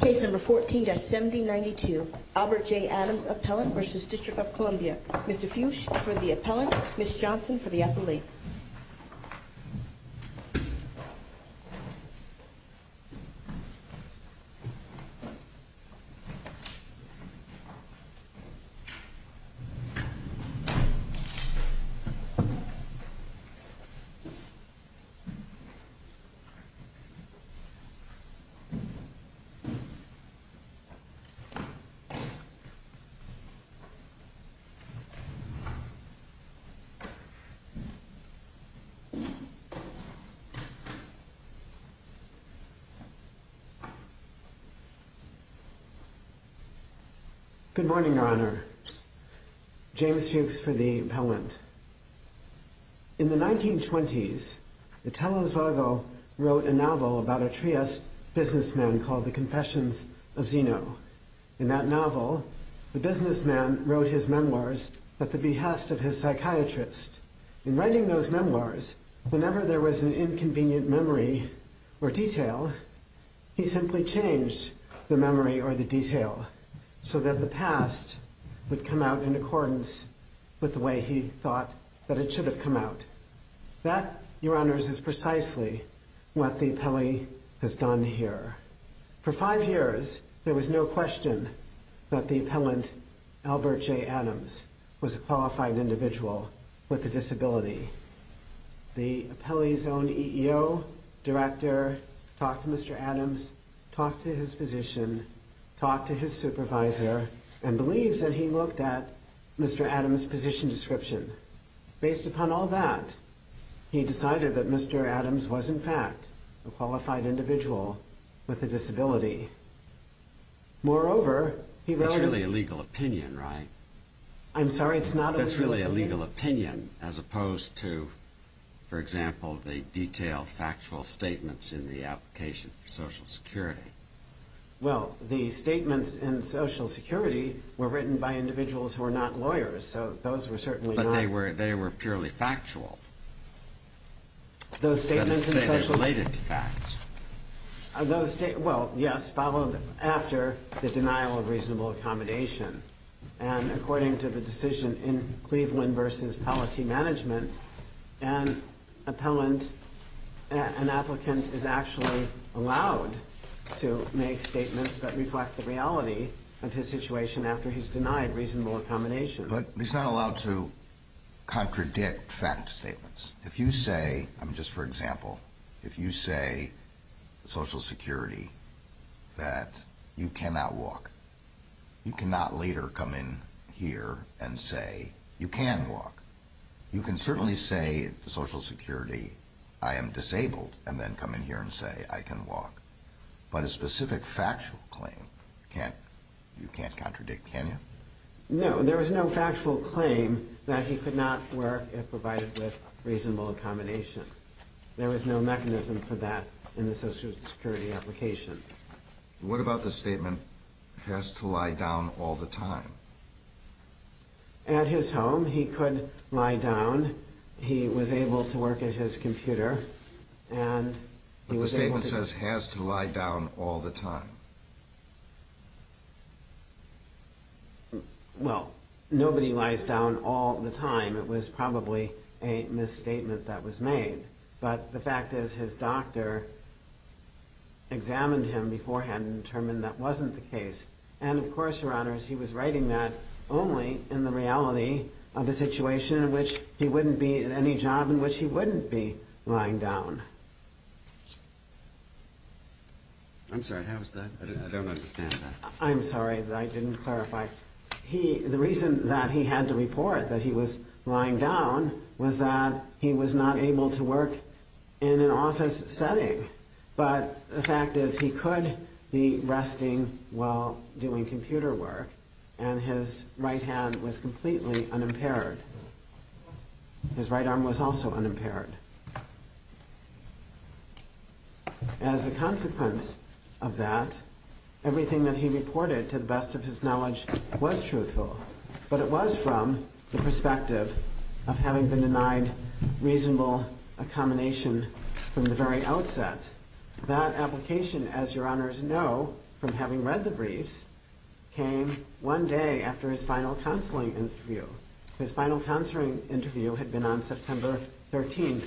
Case number 14-7092, Albert J. Adams Appellant v. District of Columbia. Mr. Fuchs for the Appellant, Ms. Johnson for the Appellate. Good morning, Your Honor. James Fuchs for the Appellant. In the 1920s, Italo Svargo wrote a novel about a Trieste businessman called The Confessions of Zeno. In that novel, the businessman wrote his memoirs at the behest of his psychiatrist. In writing those memoirs, whenever there was an inconvenient memory or detail, he simply changed the memory or the detail so that the past would come out in accordance with the way he thought that it should have come out. That, Your Honors, is precisely what the Appellee has done here. For five years, there was no question that the Appellant, Albert J. Adams, was a qualified individual with a disability. The Appellee's own EEO, director, talked to Mr. Adams, talked to his physician, talked to his supervisor, and believes that he looked at Mr. Adams' position description. Based upon all that, he decided that Mr. Adams was, in fact, a qualified individual with a disability. Moreover, he wrote... That's really a legal opinion, right? I'm sorry, it's not a legal opinion? That's really a legal opinion, as opposed to, for example, the detailed factual statements in the application for Social Security. Well, the statements in Social Security were written by individuals who were not lawyers, so those were certainly not... But they were purely factual. Those statements in Social Security... You've got to say they're related to facts. Well, yes, followed after the denial of reasonable accommodation. And according to the decision in Cleveland v. Policy Management, an appellant, an applicant, is actually allowed to make statements that reflect the reality of his situation after he's denied reasonable accommodation. But he's not allowed to contradict fact statements. If you say, just for example, if you say, Social Security, that you cannot walk, you cannot later come in here and say you can walk. You can certainly say, Social Security, I am disabled, and then come in here and say I can walk. But a specific factual claim, you can't contradict, can you? No, there was no factual claim that he could not work if provided with reasonable accommodation. There was no mechanism for that in the Social Security application. What about the statement, he has to lie down all the time? At his home, he could lie down. He was able to work at his computer, and he was able to... But the statement says, has to lie down all the time. Well, nobody lies down all the time. It was probably a misstatement that was made. But the fact is, his doctor examined him beforehand and determined that wasn't the case. And of course, Your Honors, he was writing that only in the reality of a situation in which he wouldn't be at any job in which he wouldn't be lying down. I'm sorry, how is that? I don't understand that. I'm sorry, I didn't clarify. The reason that he had to report that he was lying down was that he was not able to work in an office setting. But the fact is, he could be resting while doing computer work, and his right hand was completely unimpaired. His right arm was also unimpaired. As a consequence of that, everything that he reported, to the best of his knowledge, was truthful. But it was from the perspective of having been denied reasonable accommodation from the very outset. That application, as Your Honors know from having read the briefs, came one day after his final counseling interview. His final counseling interview had been on September 13,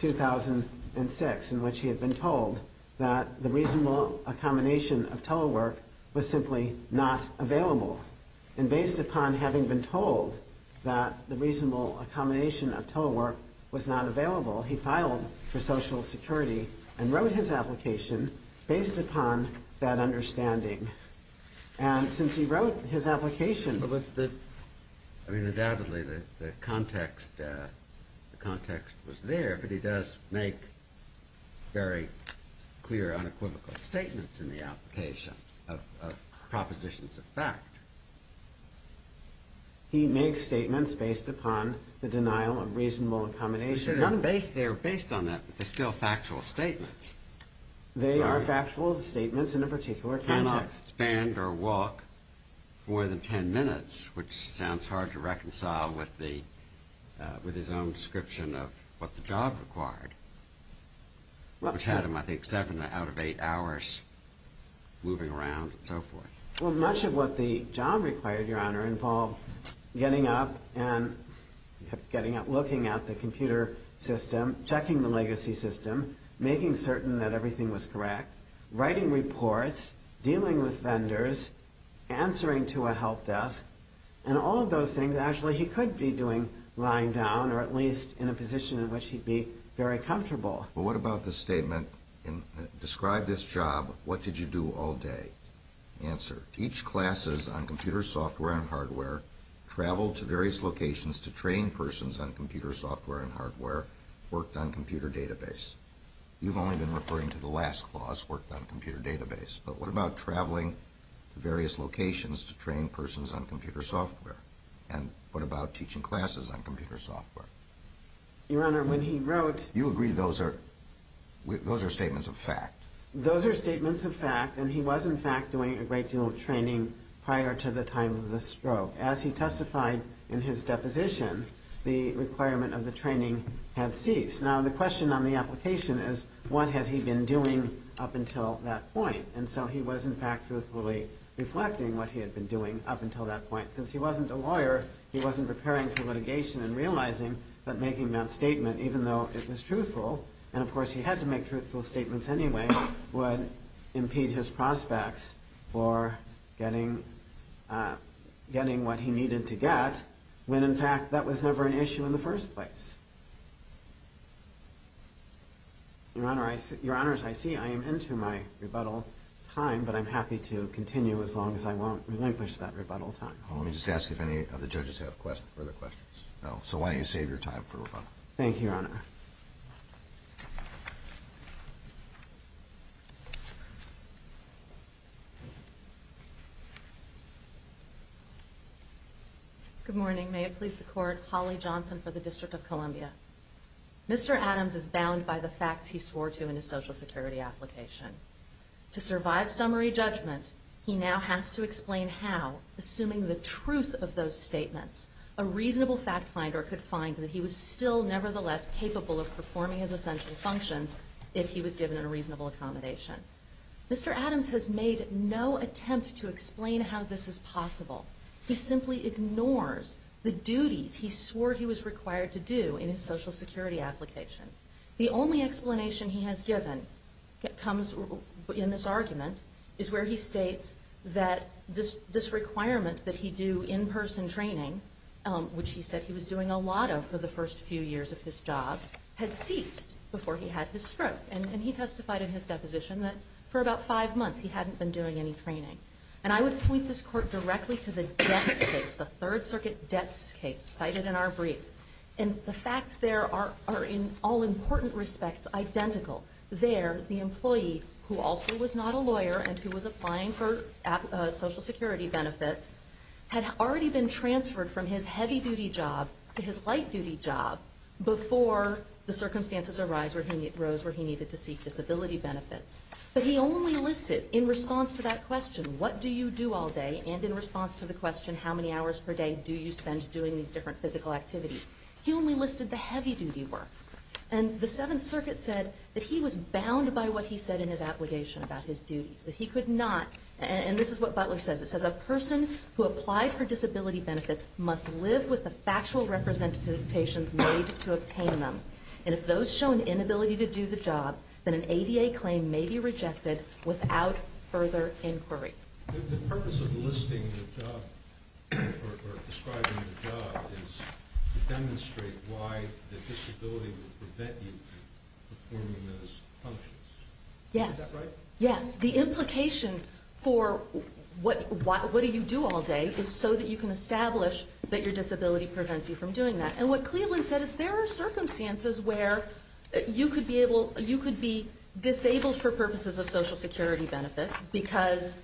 2006, in which he had been told that the reasonable accommodation of telework was simply not available. And based upon having been told that the reasonable accommodation of telework was not available, he filed for Social Security and wrote his application based upon that understanding. And since he wrote his application... I mean, undoubtedly, the context was there, but he does make very clear, unequivocal statements in the application of propositions of fact. He makes statements based upon the denial of reasonable accommodation. They are based on that, but they're still factual statements. They are factual statements in a particular context. He cannot stand or walk more than 10 minutes, which sounds hard to reconcile with his own description of what the job required, which had him, I think, seven out of eight hours moving around and so forth. Well, much of what the job required, Your Honor, involved getting up and looking at the computer system, checking the legacy system, making certain that everything was correct, writing reports, dealing with vendors, answering to a help desk, and all of those things, actually, he could be doing lying down, or at least in a position in which he'd be very comfortable. Well, what about the statement, describe this job, what did you do all day? Answer, teach classes on computer software and hardware, travel to various locations to train persons on computer software and hardware, worked on computer database. You've only been referring to the last clause, worked on computer database. But what about traveling to various locations to train persons on computer software? And what about teaching classes on computer software? Your Honor, when he wrote— You agree those are statements of fact? Those are statements of fact, and he was, in fact, doing a great deal of training prior to the time of the stroke. As he testified in his deposition, the requirement of the training had ceased. Now, the question on the application is, what had he been doing up until that point? And so he was, in fact, truthfully reflecting what he had been doing up until that point. Since he wasn't a lawyer, he wasn't preparing for litigation and realizing that making that statement, even though it was truthful, and of course he had to make truthful statements anyway, would impede his prospects for getting what he needed to get, when, in fact, that was never an issue in the first place. Your Honor, as I see, I am into my rebuttal time, but I'm happy to continue as long as I won't relinquish that rebuttal time. Well, let me just ask if any of the judges have further questions. So why don't you save your time for rebuttal. Thank you, Your Honor. Your Honor. Good morning. May it please the Court. Holly Johnson for the District of Columbia. Mr. Adams is bound by the facts he swore to in his Social Security application. To survive summary judgment, he now has to explain how, assuming the truth of those statements, a reasonable fact finder could find that he was still, nevertheless, capable of performing his essential functions if he was given a reasonable accommodation. Mr. Adams has made no attempt to explain how this is possible. He simply ignores the duties he swore he was required to do in his Social Security application. The only explanation he has given comes in this argument is where he states that this requirement that he do in-person training which he said he was doing a lot of for the first few years of his job had ceased before he had his stroke. And he testified in his deposition that for about five months he hadn't been doing any training. And I would point this Court directly to the deaths case, the Third Circuit deaths case cited in our brief. And the facts there are, in all important respects, identical. There, the employee, who also was not a lawyer and who was applying for Social Security benefits, had already been transferred from his heavy-duty job to his light-duty job before the circumstances arose where he needed to seek disability benefits. But he only listed, in response to that question, what do you do all day, and in response to the question, how many hours per day do you spend doing these different physical activities, he only listed the heavy-duty work. And the Seventh Circuit said that he was bound by what he said in his application about his duties, that he could not, and this is what Butler says, it says a person who applied for disability benefits must live with the factual representations made to obtain them. And if those show an inability to do the job, then an ADA claim may be rejected without further inquiry. The purpose of listing the job, or describing the job, is to demonstrate why the disability would prevent you from performing those functions. Is that right? Yes. The implication for what do you do all day is so that you can establish that your disability prevents you from doing that. And what Cleveland said is there are circumstances where you could be disabled for purposes of Social Security benefits because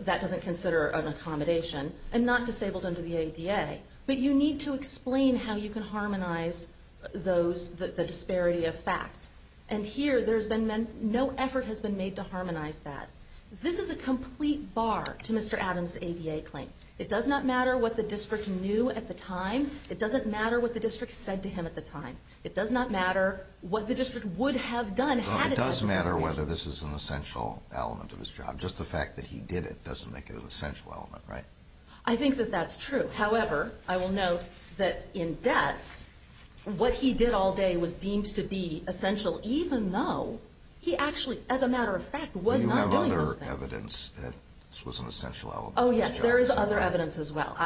that doesn't consider an accommodation, and not disabled under the ADA. But you need to explain how you can harmonize the disparity of fact. And here there's been no effort has been made to harmonize that. This is a complete bar to Mr. Adams' ADA claim. It does not matter what the district knew at the time. It doesn't matter what the district said to him at the time. It does not matter what the district would have done had it had its information. Well, it does matter whether this is an essential element of his job. Just the fact that he did it doesn't make it an essential element, right? I think that that's true. However, I will note that in debts, what he did all day was deemed to be essential even though he actually, as a matter of fact, was not doing those things. Do you have other evidence that this was an essential element of his job? Oh, yes, there is other evidence as well.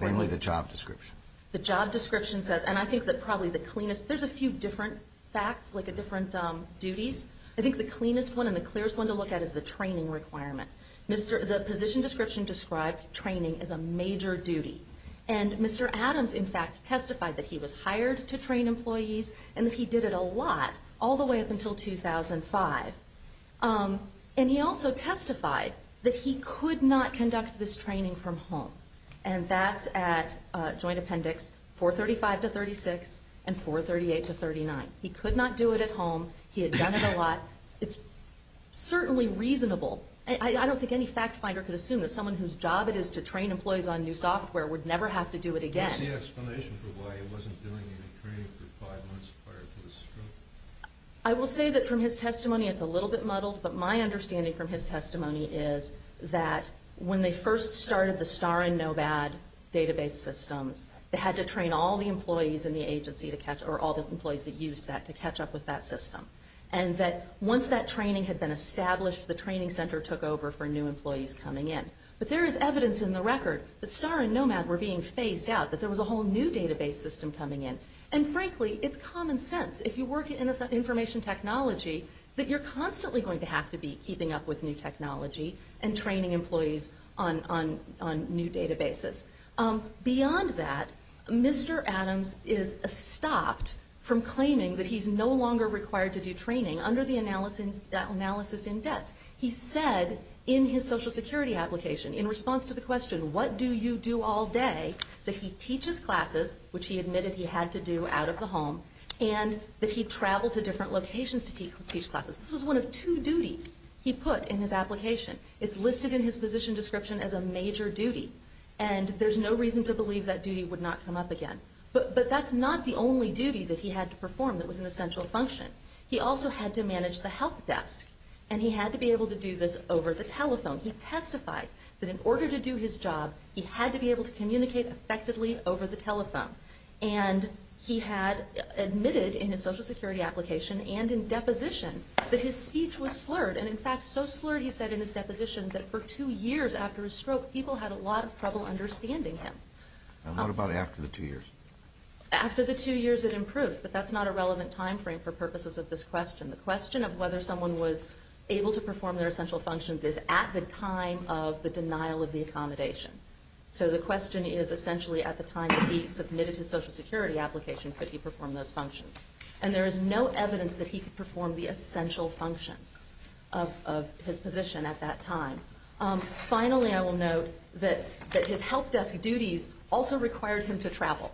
Namely the job description. The job description says, and I think that probably the cleanest, there's a few different facts, like different duties. I think the cleanest one and the clearest one to look at is the training requirement. The position description describes training as a major duty. And Mr. Adams, in fact, testified that he was hired to train employees and that he did it a lot all the way up until 2005. And he also testified that he could not conduct this training from home. And that's at Joint Appendix 435 to 36 and 438 to 39. He could not do it at home. He had done it a lot. It's certainly reasonable. I don't think any fact finder could assume that someone whose job it is to train employees on new software would never have to do it again. What's the explanation for why he wasn't doing any training for five months prior to his stroke? I will say that from his testimony it's a little bit muddled, but my understanding from his testimony is that when they first started the STAR and NOVAD database systems, they had to train all the employees in the agency to catch up, or all the employees that used that to catch up with that system. And that once that training had been established, the training center took over for new employees coming in. But there is evidence in the record that STAR and NOVAD were being phased out, that there was a whole new database system coming in. And, frankly, it's common sense. If you work in information technology, that you're constantly going to have to be keeping up with new technology and training employees on new databases. Beyond that, Mr. Adams is stopped from claiming that he's no longer required to do training under the analysis in debts. He said in his Social Security application, in response to the question, what do you do all day, that he teaches classes, which he admitted he had to do out of the home, and that he traveled to different locations to teach classes. This was one of two duties he put in his application. It's listed in his position description as a major duty. And there's no reason to believe that duty would not come up again. But that's not the only duty that he had to perform that was an essential function. He also had to manage the help desk. And he had to be able to do this over the telephone. He testified that in order to do his job, he had to be able to communicate effectively over the telephone. And he had admitted in his Social Security application and in deposition that his speech was slurred. And, in fact, so slurred, he said in his deposition, that for two years after his stroke, people had a lot of trouble understanding him. And what about after the two years? After the two years, it improved. But that's not a relevant time frame for purposes of this question. The question of whether someone was able to perform their essential functions is at the time of the denial of the accommodation. So the question is essentially at the time that he submitted his Social Security application could he perform those functions. And there is no evidence that he could perform the essential functions of his position at that time. Finally, I will note that his help desk duties also required him to travel.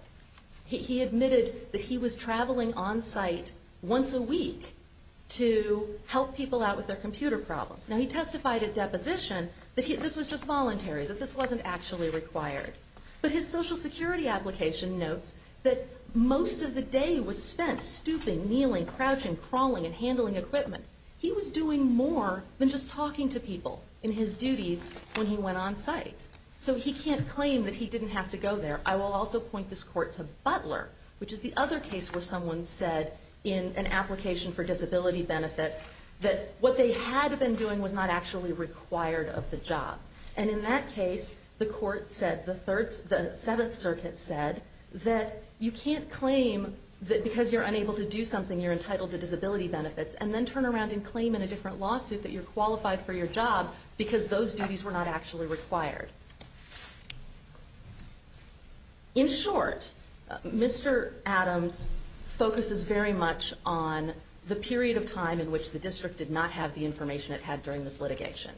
He admitted that he was traveling on site once a week to help people out with their computer problems. Now, he testified at deposition that this was just voluntary, that this wasn't actually required. But his Social Security application notes that most of the day was spent stooping, kneeling, crouching, crawling, and handling equipment. He was doing more than just talking to people in his duties when he went on site. So he can't claim that he didn't have to go there. I will also point this court to Butler, which is the other case where someone said in an application for disability benefits that what they had been doing was not actually required of the job. And in that case, the court said, the Seventh Circuit said, that you can't claim that because you're unable to do something you're entitled to disability benefits and then turn around and claim in a different lawsuit that you're qualified for your job because those duties were not actually required. In short, Mr. Adams focuses very much on the period of time in which the district did not have the information it had during this litigation.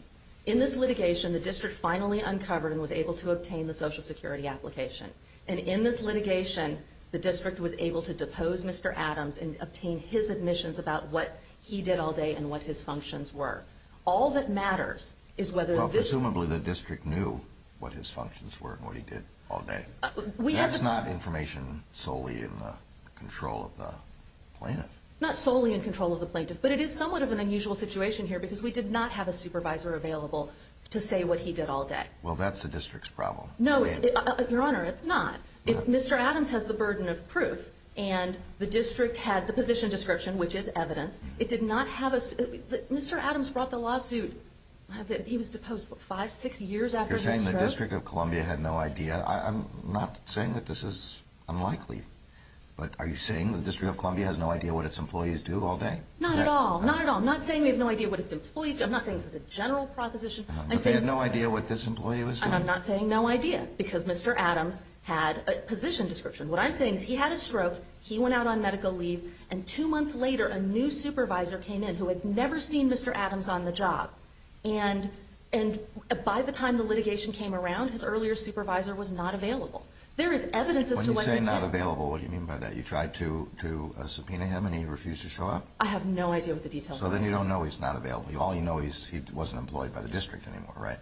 In this litigation, the district finally uncovered and was able to obtain the Social Security application. And in this litigation, the district was able to depose Mr. Adams and obtain his admissions about what he did all day and what his functions were. All that matters is whether this... Well, presumably the district knew what his functions were and what he did all day. That's not information solely in the control of the plaintiff. Not solely in control of the plaintiff. But it is somewhat of an unusual situation here because we did not have a supervisor available to say what he did all day. Well, that's the district's problem. No, Your Honor, it's not. Mr. Adams has the burden of proof and the district had the position description, which is evidence. It did not have a... Mr. Adams brought the lawsuit. He was deposed five, six years after his stroke. You're saying the District of Columbia had no idea. I'm not saying that this is unlikely. But are you saying the District of Columbia has no idea what its employees do all day? Not at all. Not at all. I'm not saying we have no idea what its employees do. I'm not saying this is a general proposition. But they had no idea what this employee was doing. And I'm not saying no idea because Mr. Adams had a position description. What I'm saying is he had a stroke, he went out on medical leave, and two months later a new supervisor came in who had never seen Mr. Adams on the job. And by the time the litigation came around, his earlier supervisor was not available. There is evidence as to what he did. When you say not available, what do you mean by that? You tried to subpoena him and he refused to show up? I have no idea what the details are. So then you don't know he's not available. All you know is he wasn't employed by the district anymore, right?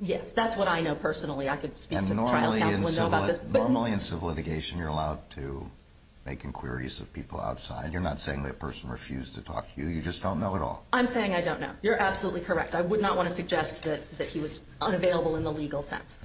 Yes, that's what I know personally. I could speak to the trial counsel and know about this. Normally in civil litigation you're allowed to make inquiries of people outside. You're not saying the person refused to talk to you. You just don't know at all. I'm saying I don't know. You're absolutely correct. I would not want to suggest that he was unavailable in the legal sense.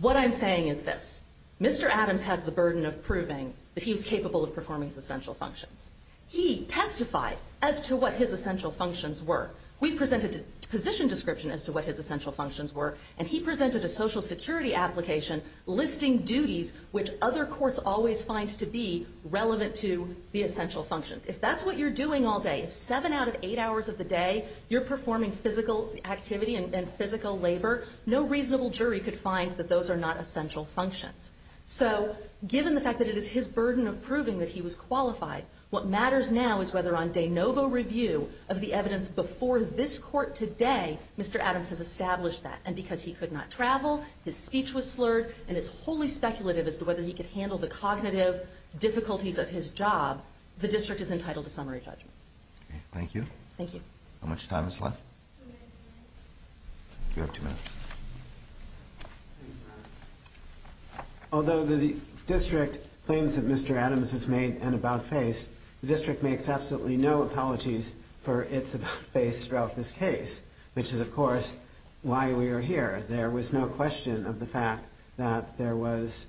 What I'm saying is this. Mr. Adams has the burden of proving that he was capable of performing his essential functions. He testified as to what his essential functions were. We presented a position description as to what his essential functions were, and he presented a Social Security application listing duties which other courts always find to be relevant to the essential functions. If that's what you're doing all day, if seven out of eight hours of the day you're performing physical activity and physical labor, no reasonable jury could find that those are not essential functions. So given the fact that it is his burden of proving that he was qualified, what matters now is whether on de novo review of the evidence before this court today Mr. Adams has established that. And because he could not travel, his speech was slurred, and it's wholly speculative as to whether he could handle the cognitive difficulties of his job, the district is entitled to summary judgment. Thank you. Thank you. How much time is left? Two minutes. You have two minutes. Although the district claims that Mr. Adams has made an about-face, the district makes absolutely no apologies for its about-face throughout this case, which is, of course, why we are here. There was no question of the fact that there was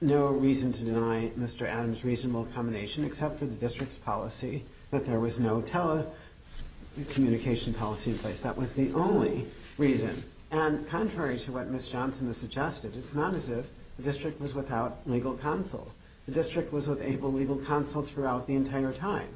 no reason to deny Mr. Adams reasonable accommodation except for the district's policy that there was no telecommunication policy in place. That was the only reason. And contrary to what Ms. Johnson has suggested, it's not as if the district was without legal counsel. The district was with able legal counsel throughout the entire time.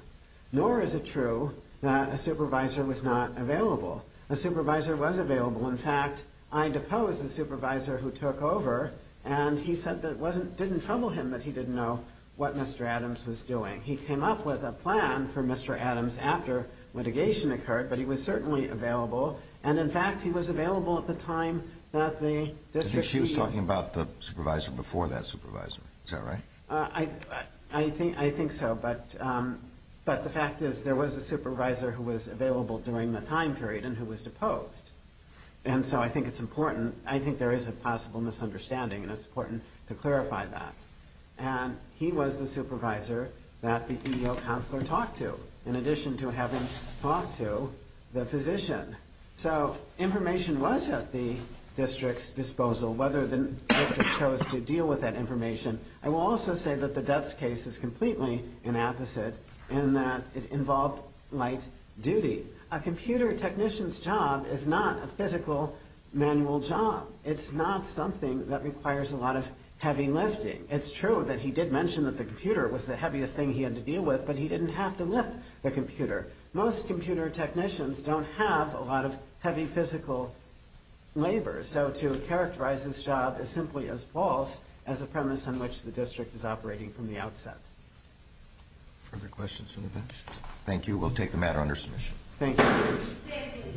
Nor is it true that a supervisor was not available. A supervisor was available. In fact, I deposed the supervisor who took over, and he said that it didn't trouble him that he didn't know what Mr. Adams was doing. He came up with a plan for Mr. Adams after litigation occurred, but he was certainly available. And, in fact, he was available at the time that the district was meeting. I think she was talking about the supervisor before that supervisor. Is that right? I think so, but the fact is there was a supervisor who was available during the time period and who was deposed. And so I think it's important. I think there is a possible misunderstanding, and it's important to clarify that. And he was the supervisor that the EDO counselor talked to, in addition to having talked to the physician. So information was at the district's disposal. Whether the district chose to deal with that information, I will also say that the death case is completely an opposite in that it involved light duty. A computer technician's job is not a physical manual job. It's not something that requires a lot of heavy lifting. It's true that he did mention that the computer was the heaviest thing he had to deal with, but he didn't have to lift the computer. Most computer technicians don't have a lot of heavy physical labor. So to characterize this job is simply as false as the premise on which the district is operating from the outset. Further questions from the bench? Thank you. We'll take the matter under submission. Thank you.